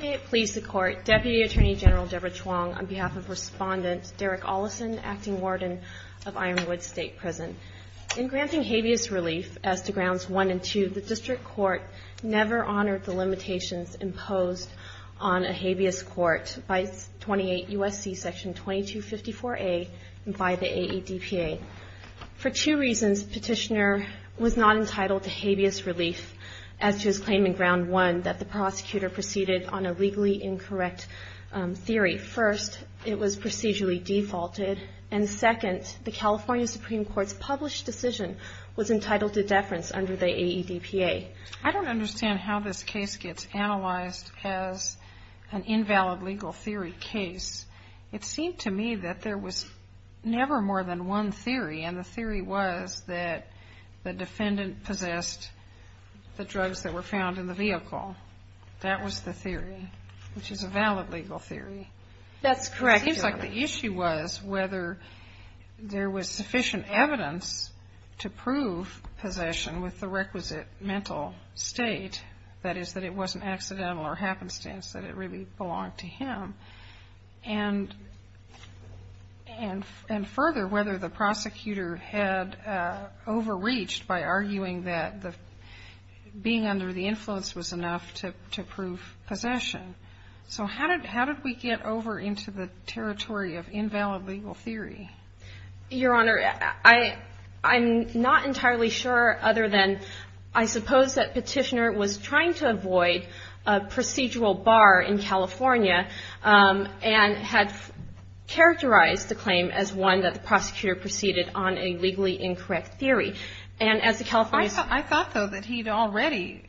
May it please the Court, Deputy Attorney General Deborah Chuang, on behalf of Respondent Derek Ollison, Acting Warden of Ironwood State Prison. In granting habeas relief as to Grounds 1 and 2, the District Court never honored the by the AEDPA. For two reasons, Petitioner was not entitled to habeas relief as to his claim in Ground 1 that the prosecutor proceeded on a legally incorrect theory. First, it was procedurally defaulted. And second, the California Supreme Court's published decision was entitled to deference under the AEDPA. I don't understand how this case gets analyzed as an invalid legal theory case. It seemed to me that there was never more than one theory, and the theory was that the defendant possessed the drugs that were found in the vehicle. That was the theory, which is a valid legal theory. That's correct, Your Honor. The issue was whether there was sufficient evidence to prove possession with the requisite mental state. That is, that it wasn't accidental or happenstance, that it really belonged to him. And further, whether the prosecutor had overreached by arguing that being under the influence was enough to prove possession. So how did we get over into the territory of invalid legal theory? Your Honor, I'm not entirely sure other than I suppose that Petitioner was trying to avoid a procedural bar in California and had characterized the claim as one that the prosecutor proceeded on a legally incorrect theory. I thought, though, that he'd already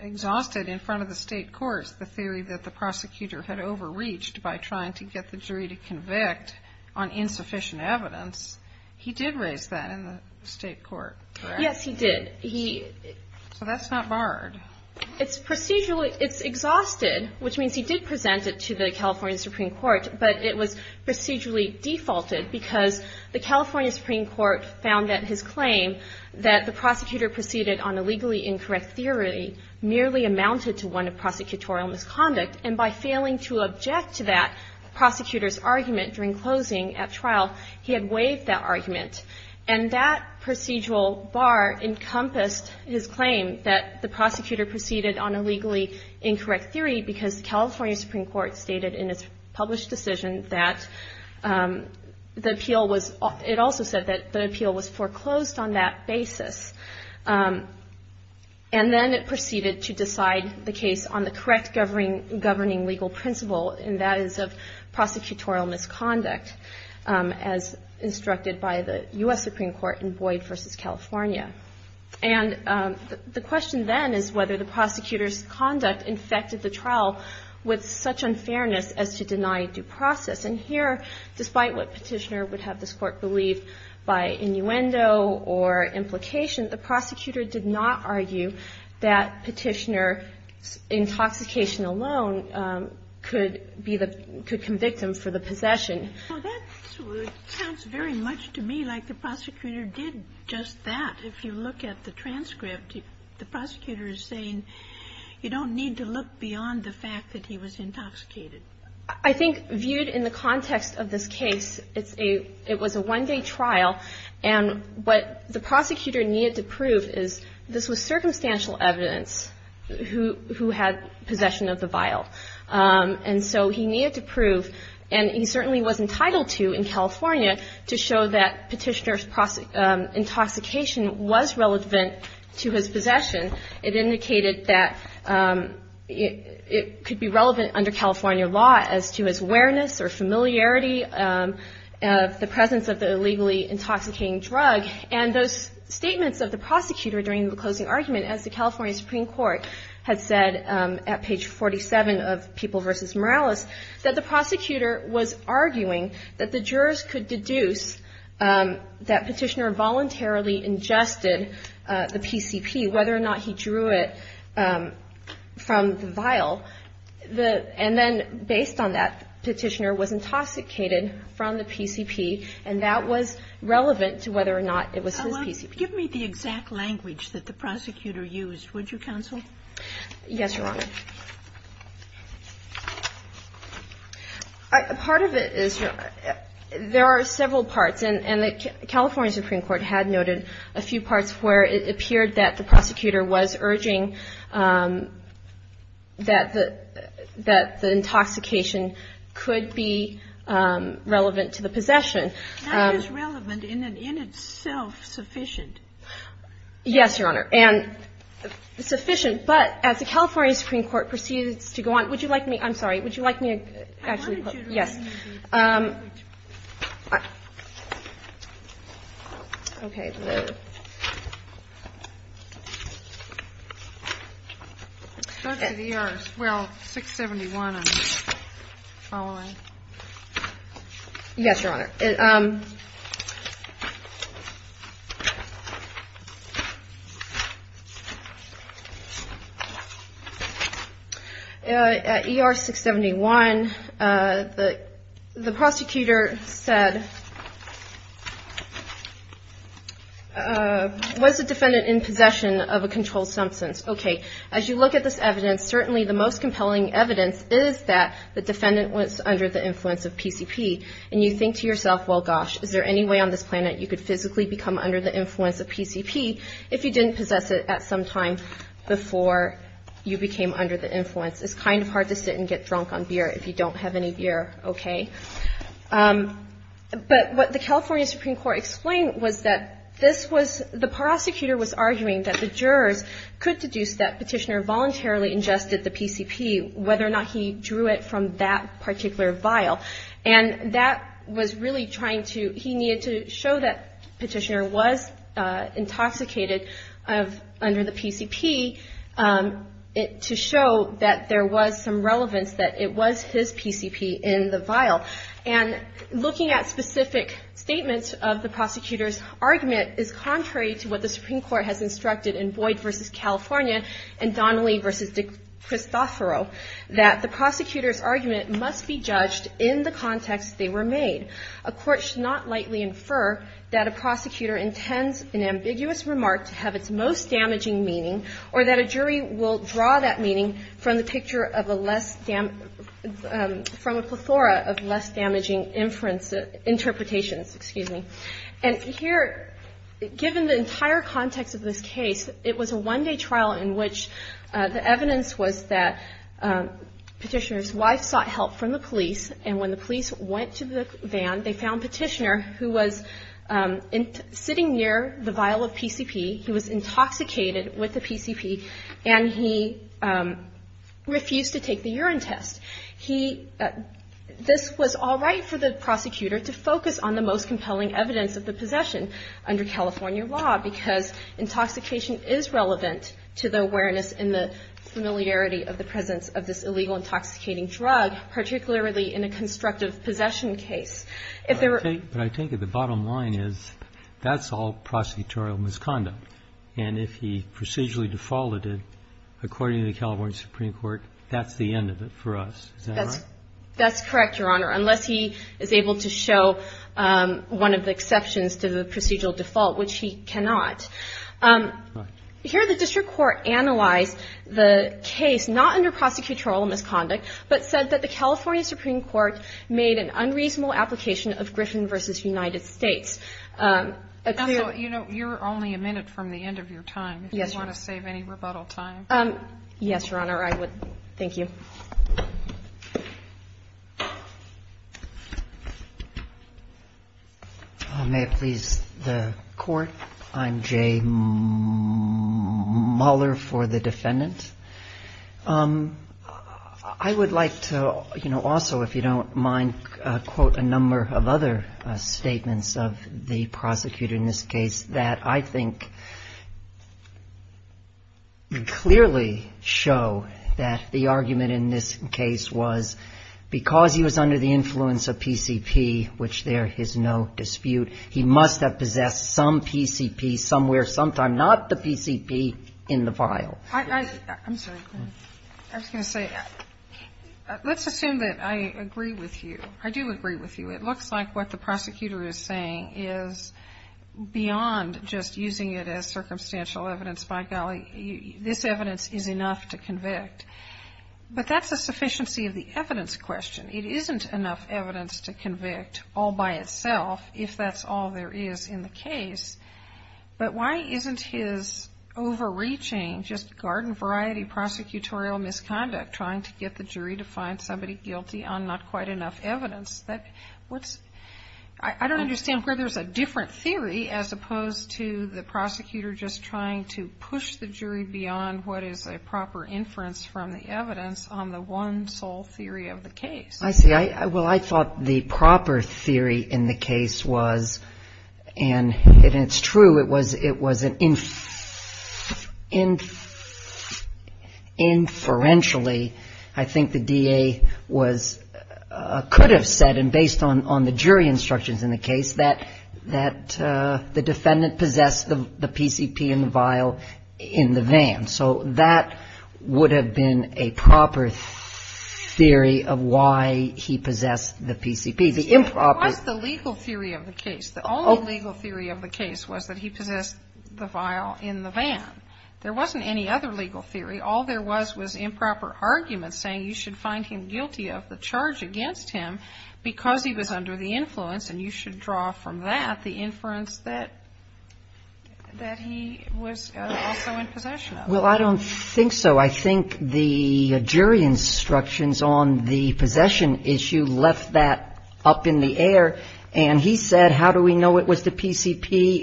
exhausted in front of the state courts the theory that the prosecutor had overreached by trying to get the jury to convict on insufficient evidence. He did raise that in the state court, correct? Yes, he did. So that's not barred. It's procedurally exhausted, which means he did present it to the California Supreme Court, but it was procedurally defaulted because the California Supreme Court found that his claim that the prosecutor proceeded on a legally incorrect theory merely amounted to one of prosecutorial misconduct. And by failing to object to that prosecutor's argument during closing at trial, he had waived that argument. And that procedural bar encompassed his claim that the prosecutor proceeded on a legally incorrect theory because the California Supreme Court stated in its published decision that the appeal was – it also said that the appeal was foreclosed on that basis. And then it proceeded to decide the case on the correct governing legal principle, and that is of prosecutorial misconduct, as instructed by the U.S. Supreme Court in Boyd v. California. And the question then is whether the prosecutor's conduct infected the trial with such unfairness as to deny due process. And here, despite what Petitioner would have this Court believe by innuendo or implication, the prosecutor did not argue that Petitioner's intoxication alone could be the – could convict him for the possession. Kagan. Well, that sounds very much to me like the prosecutor did just that. If you look at the transcript, the prosecutor is saying you don't need to look beyond the fact that he was intoxicated. I think viewed in the context of this case, it's a – it was a one-day trial, and what the prosecutor needed to prove is this was circumstantial evidence who had possession of the vial. And so he needed to prove, and he certainly was entitled to in California, to show that Petitioner's intoxication was relevant to his possession. It indicated that it could be relevant under California law as to his awareness or familiarity of the presence of the illegally intoxicating drug. And those statements of the prosecutor during the closing argument, as the California Supreme Court had said at page 47 of People v. Morales, that the prosecutor was arguing that the jurors could deduce that Petitioner voluntarily ingested the PCP, whether or not he drew it from the vial, and then, based on that, Petitioner was intoxicated from the PCP, and that was relevant to whether or not it was his PCP. Sotomayor, give me the exact language that the prosecutor used, would you, counsel? Yes, Your Honor. Part of it is there are several parts, and the California Supreme Court had noted a few parts where it appeared that the prosecutor was urging that the intoxication could be relevant to the possession. Now, is relevant in and in itself sufficient? Yes, Your Honor. And sufficient, but as the California Supreme Court proceeds to go on, would you like me to, I'm sorry, would you like me to actually put, yes. I wanted you to read me the language. Okay. It starts with ER, well, 671, I'm following. Yes, Your Honor. At ER 671, the prosecutor said, was the defendant in possession of a controlled substance? Okay, as you look at this evidence, certainly the most compelling evidence is that the defendant was under the influence of PCP. And you think to yourself, well, gosh, is there any way on this planet you could physically become under the influence of PCP if you didn't possess it at some time before you became under the influence? It's kind of hard to sit and get drunk on beer if you don't have any beer, okay? But what the California Supreme Court explained was that this was, the prosecutor was arguing that the jurors could deduce that Petitioner voluntarily ingested the PCP whether or not he drew it from that particular vial. And that was really trying to, he needed to show that Petitioner was intoxicated under the PCP to show that there was some relevance that it was his PCP in the vial. And looking at specific statements of the prosecutor's argument is contrary to what the Supreme Court has instructed in Boyd v. California and Donnelly v. De Cristoforo that the prosecutor's argument must be judged in the context they were made. A court should not lightly infer that a prosecutor intends an ambiguous remark to have its most damaging meaning or that a jury will draw that meaning from a plethora of less damaging interpretations. And here, given the entire context of this case, it was a one-day trial in which the evidence was that Petitioner's wife sought help from the police, and when the police went to the van, they found Petitioner who was sitting near the vial of PCP, he was intoxicated with the PCP, and he refused to take the urine test. He – this was all right for the prosecutor to focus on the most compelling evidence of the possession under California law, because intoxication is relevant to the awareness and the familiarity of the presence of this illegal intoxicating drug, particularly in a constructive possession case. If there were – But I think that the bottom line is that's all prosecutorial misconduct. And if he procedurally defaulted, according to the California Supreme Court, that's the end of it for us. Is that right? That's correct, Your Honor, unless he is able to show one of the exceptions to the procedural default, which he cannot. Right. Here, the district court analyzed the case not under prosecutorial misconduct, but said that the California Supreme Court made an unreasonable application of Griffin v. United States. Counsel, you know, you're only a minute from the end of your time. Yes, Your Honor. If you want to save any rebuttal time. Yes, Your Honor, I would. Thank you. May it please the Court? I'm Jay Mueller for the defendant. I would like to, you know, also, if you don't mind, quote a number of other statements of the prosecutor in this case that I think clearly show that the argument in this case was because he was under the influence of PCP, which there is no dispute, he must have possessed some PCP somewhere sometime, not the PCP in the vial. I'm sorry. I was going to say, let's assume that I agree with you. I do agree with you. It looks like what the prosecutor is saying is beyond just using it as circumstantial evidence, by golly, this evidence is enough to convict. But that's a sufficiency of the evidence question. It isn't enough evidence to convict all by itself, if that's all there is in the case. But why isn't his overreaching, just garden variety prosecutorial misconduct, trying to get the jury to find somebody guilty on not quite enough evidence? I don't understand where there's a different theory as opposed to the prosecutor just trying to push the jury beyond what is a proper inference from the evidence on the one sole theory of the case. I see. Well, I thought the proper theory in the case was, and it's true, it was an inferentially, I think the DA could have said, and based on the jury instructions in the case, that the defendant possessed the PCP in the vial in the van. And so that would have been a proper theory of why he possessed the PCP. The improper. It was the legal theory of the case. The only legal theory of the case was that he possessed the vial in the van. There wasn't any other legal theory. All there was was improper arguments saying you should find him guilty of the charge against him because he was under the influence and you should draw from that the inference that he was also in possession of. Well, I don't think so. I think the jury instructions on the possession issue left that up in the air. And he said, how do we know it was the PCP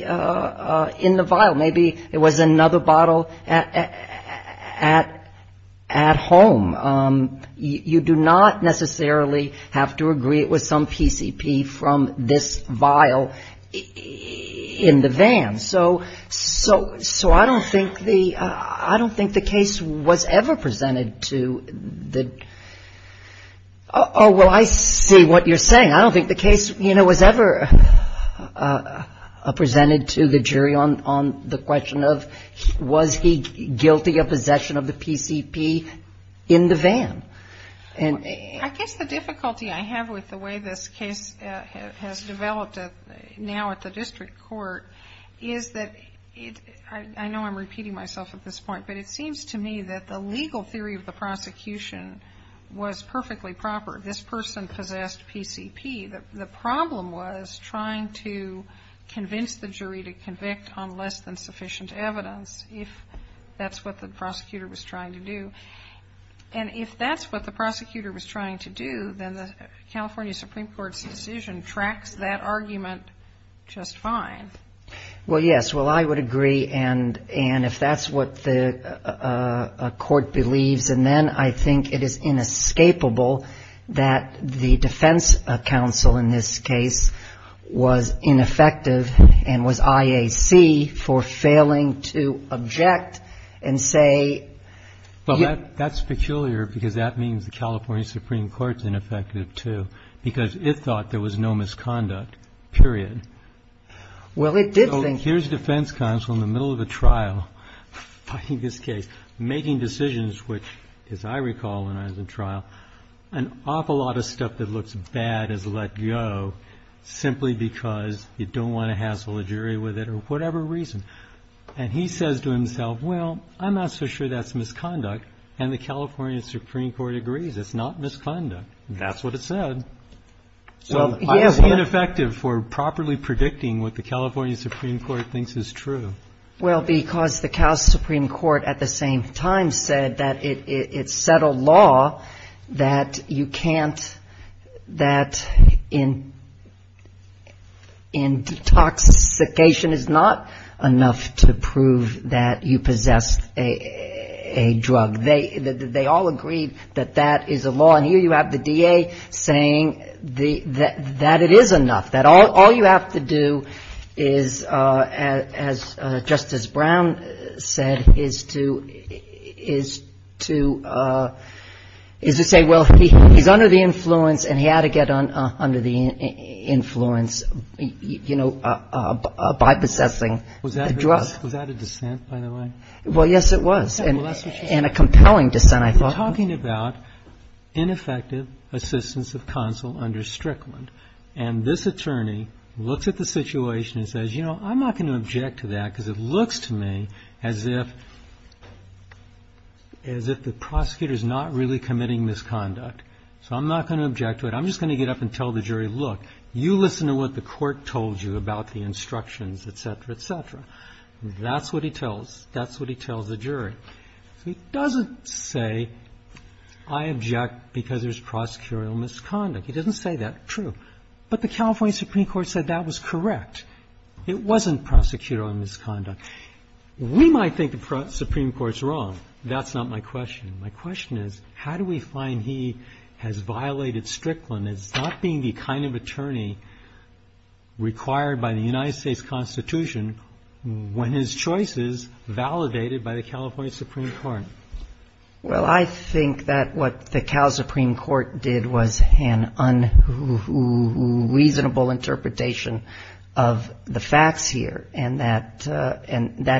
in the vial? Maybe it was another bottle at home. You do not necessarily have to agree it was some PCP from this vial in the van. So I don't think the case was ever presented to the oh, well, I see what you're saying. I don't think the case, you know, was ever presented to the jury on the question of was he guilty of possession of the PCP in the van. I guess the difficulty I have with the way this case has developed now at the district court is that I know I'm repeating myself at this point, but it seems to me that the legal theory of the prosecution was perfectly proper. This person possessed PCP. The problem was trying to convince the jury to convict on less than sufficient evidence if that's what the prosecutor was trying to do. And if that's what the prosecutor was trying to do, then the California Supreme Court's decision tracks that argument just fine. Well, yes. Well, I would agree. And if that's what the court believes, then I think it is inescapable that the defense counsel in this case was ineffective and was IAC for failing to object and say. Well, that's peculiar because that means the California Supreme Court is ineffective too because it thought there was no misconduct, period. Well, it did think. Here's defense counsel in the middle of a trial fighting this case, making decisions, which, as I recall when I was in trial, an awful lot of stuff that looks bad is let go simply because you don't want to hassle a jury with it or whatever reason. And he says to himself, well, I'm not so sure that's misconduct. And the California Supreme Court agrees it's not misconduct. That's what it said. So it's ineffective for properly predicting what the California Supreme Court thinks is true. Well, because the Cal Supreme Court at the same time said that it set a law that you can't that in detoxification is not enough to prove that you possess a drug. They all agreed that that is a law. And here you have the DA saying that it is enough, that all you have to do is, as Justice Brown said, is to say, well, he's under the influence and he had to get under the influence, you know, by possessing the drug. Was that a dissent, by the way? Well, yes, it was. And a compelling dissent, I thought. We're talking about ineffective assistance of counsel under Strickland. And this attorney looks at the situation and says, you know, I'm not going to object to that because it looks to me as if the prosecutor is not really committing misconduct. So I'm not going to object to it. I'm just going to get up and tell the jury, look, you listen to what the court told you about the instructions, et cetera, et cetera. That's what he tells the jury. So he doesn't say I object because there's prosecutorial misconduct. He doesn't say that. True. But the California Supreme Court said that was correct. It wasn't prosecutorial misconduct. We might think the Supreme Court's wrong. That's not my question. My question is how do we find he has violated Strickland as not being the kind of attorney required by the United States Constitution when his choice is validated by the California Supreme Court? Well, I think that what the Cal Supreme Court did was an unreasonable interpretation of the facts here and that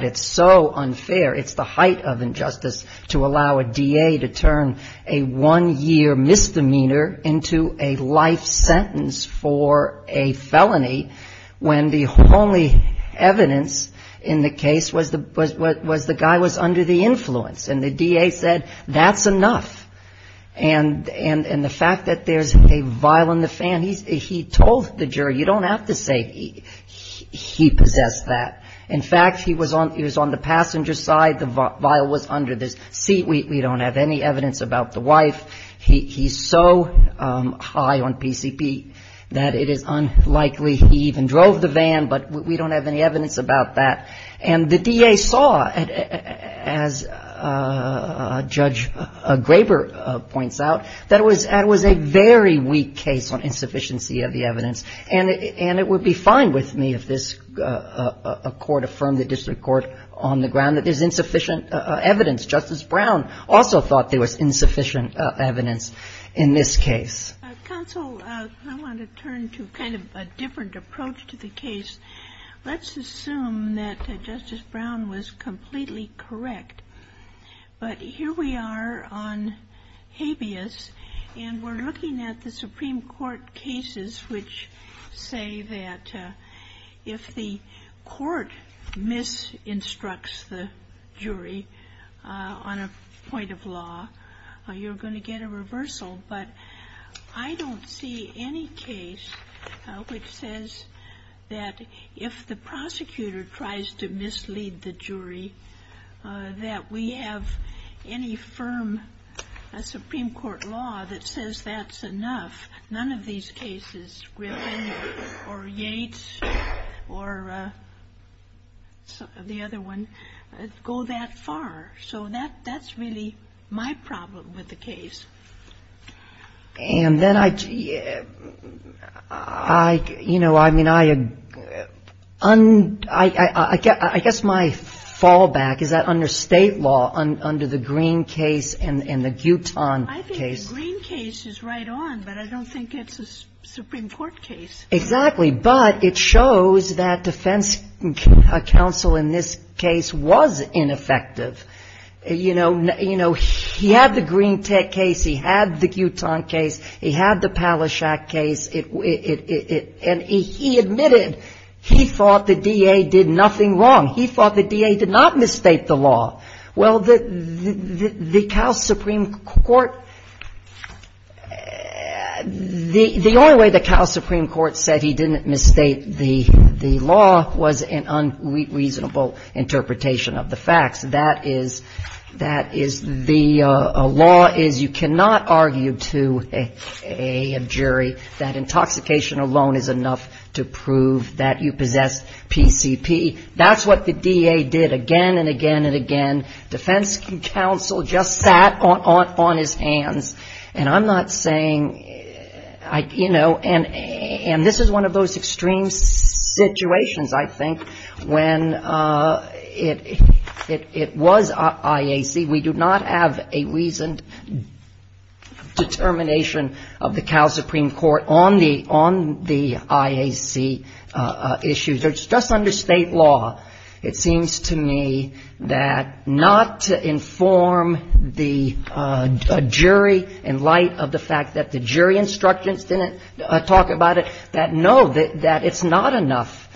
it's so unfair, it's the height of injustice to allow a DA to turn a one-year misdemeanor into a life sentence for a felony when the only evidence in the case was the guy was under the influence. And the DA said that's enough. And the fact that there's a vial in the van, he told the jury, you don't have to say he possessed that. In fact, he was on the passenger side, the vial was under the seat, we don't have any evidence about the wife. He's so high on PCP that it is unlikely he even drove the van, but we don't have any evidence about that. And the DA saw, as Judge Graber points out, that it was a very weak case on insufficiency of the evidence. And it would be fine with me if this court affirmed, the district court on the ground, that there's insufficient evidence. Justice Brown also thought there was insufficient evidence in this case. Counsel, I want to turn to kind of a different approach to the case. Let's assume that Justice Brown was completely correct. But here we are on habeas, and we're looking at the Supreme Court cases which say that if the court misinstructs the jury on a point of law, you're going to get a reversal. But I don't see any case which says that if the prosecutor tries to mislead the jury, that we have any firm Supreme Court law that says that's enough. None of these cases, Griffin or Yates or the other one, go that far, so that's really my problem with the case. And then I, you know, I mean, I guess my fallback is that under State law, under the Green case and the Guton case. I think the Green case is right on, but I don't think it's a Supreme Court case. Exactly, but it shows that defense counsel in this case was ineffective. You know, he had the Green case, he had the Guton case, he had the Palaszczak case, and he admitted he thought the DA did nothing wrong. He thought the DA did not misstate the law. Well, the Cal Supreme Court, the only way the Cal Supreme Court said he didn't misstate the law was an unreasonable interpretation of the facts. That is, the law is you cannot argue to a jury that intoxication alone is enough to prove that you possess PCP. That's what the DA did again and again and again. Defense counsel just sat on his hands. And I'm not saying, you know, and this is one of those extreme situations, I think, when it was IAC. We do not have a reasoned determination of the Cal Supreme Court on the IAC issues. It's just under State law, it seems to me, that not to inform the jury in light of the fact that the jury instructions didn't talk about it, that no, that it's not enough,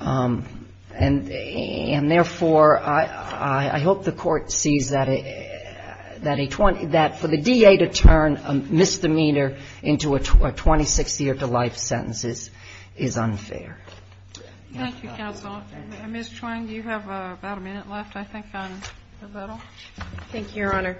and therefore, I hope the Court sees that a 20 — that for the DA to turn a misdemeanor into a 26-year-to-life sentence is unfair. Thank you, counsel. Ms. Twain, do you have about a minute left, I think, on the bill? Thank you, Your Honor.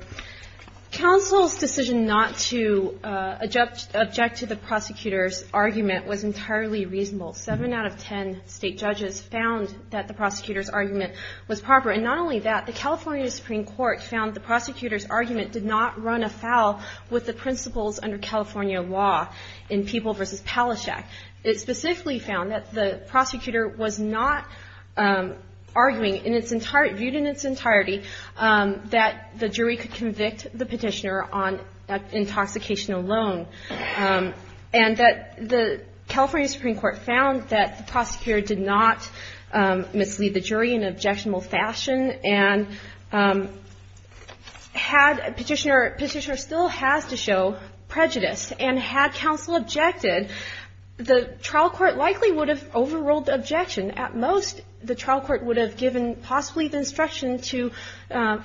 Counsel's decision not to object to the prosecutor's argument was entirely reasonable. Seven out of ten State judges found that the prosecutor's argument was proper. And not only that, the California Supreme Court found the prosecutor's argument did not run afoul with the principles under California law in Peeble v. Palaszczuk. It specifically found that the prosecutor was not arguing in its entire — viewed in its entirety that the jury could convict the petitioner on intoxication alone, and that the California Supreme Court found that the prosecutor did not mislead the jury in an objectionable fashion, and had Petitioner — Petitioner still has to be convicted? The trial court likely would have overruled the objection. At most, the trial court would have given possibly the instruction to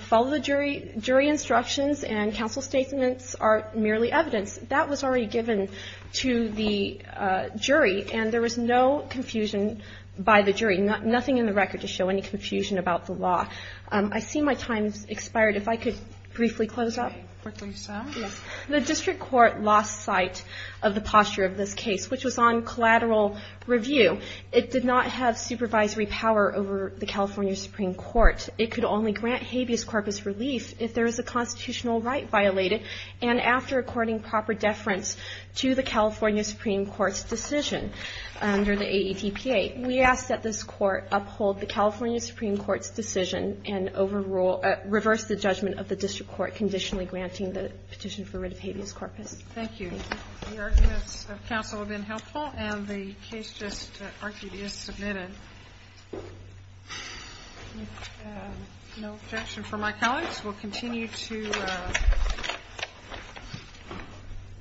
follow the jury — jury instructions, and counsel's statements are merely evidence. That was already given to the jury, and there was no confusion by the jury, nothing in the record to show any confusion about the law. I see my time has expired. If I could briefly close up. The district court lost sight of the posture of this case, which was on collateral review. It did not have supervisory power over the California Supreme Court. It could only grant habeas corpus relief if there was a constitutional right violated, and after according proper deference to the California Supreme Court's decision under the AATPA. We ask that this Court uphold the California Supreme Court's decision and overrule — reverse the judgment of the district court conditionally granting the petition for rid of habeas corpus. Thank you. The arguments of counsel have been helpful, and the case just argued is submitted. With no objection from my colleagues, we'll continue to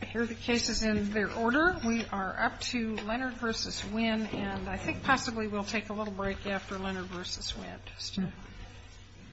hear the cases in their order. We are up to Leonard v. Winn, and I think possibly we'll take a little break after Leonard v. Winn.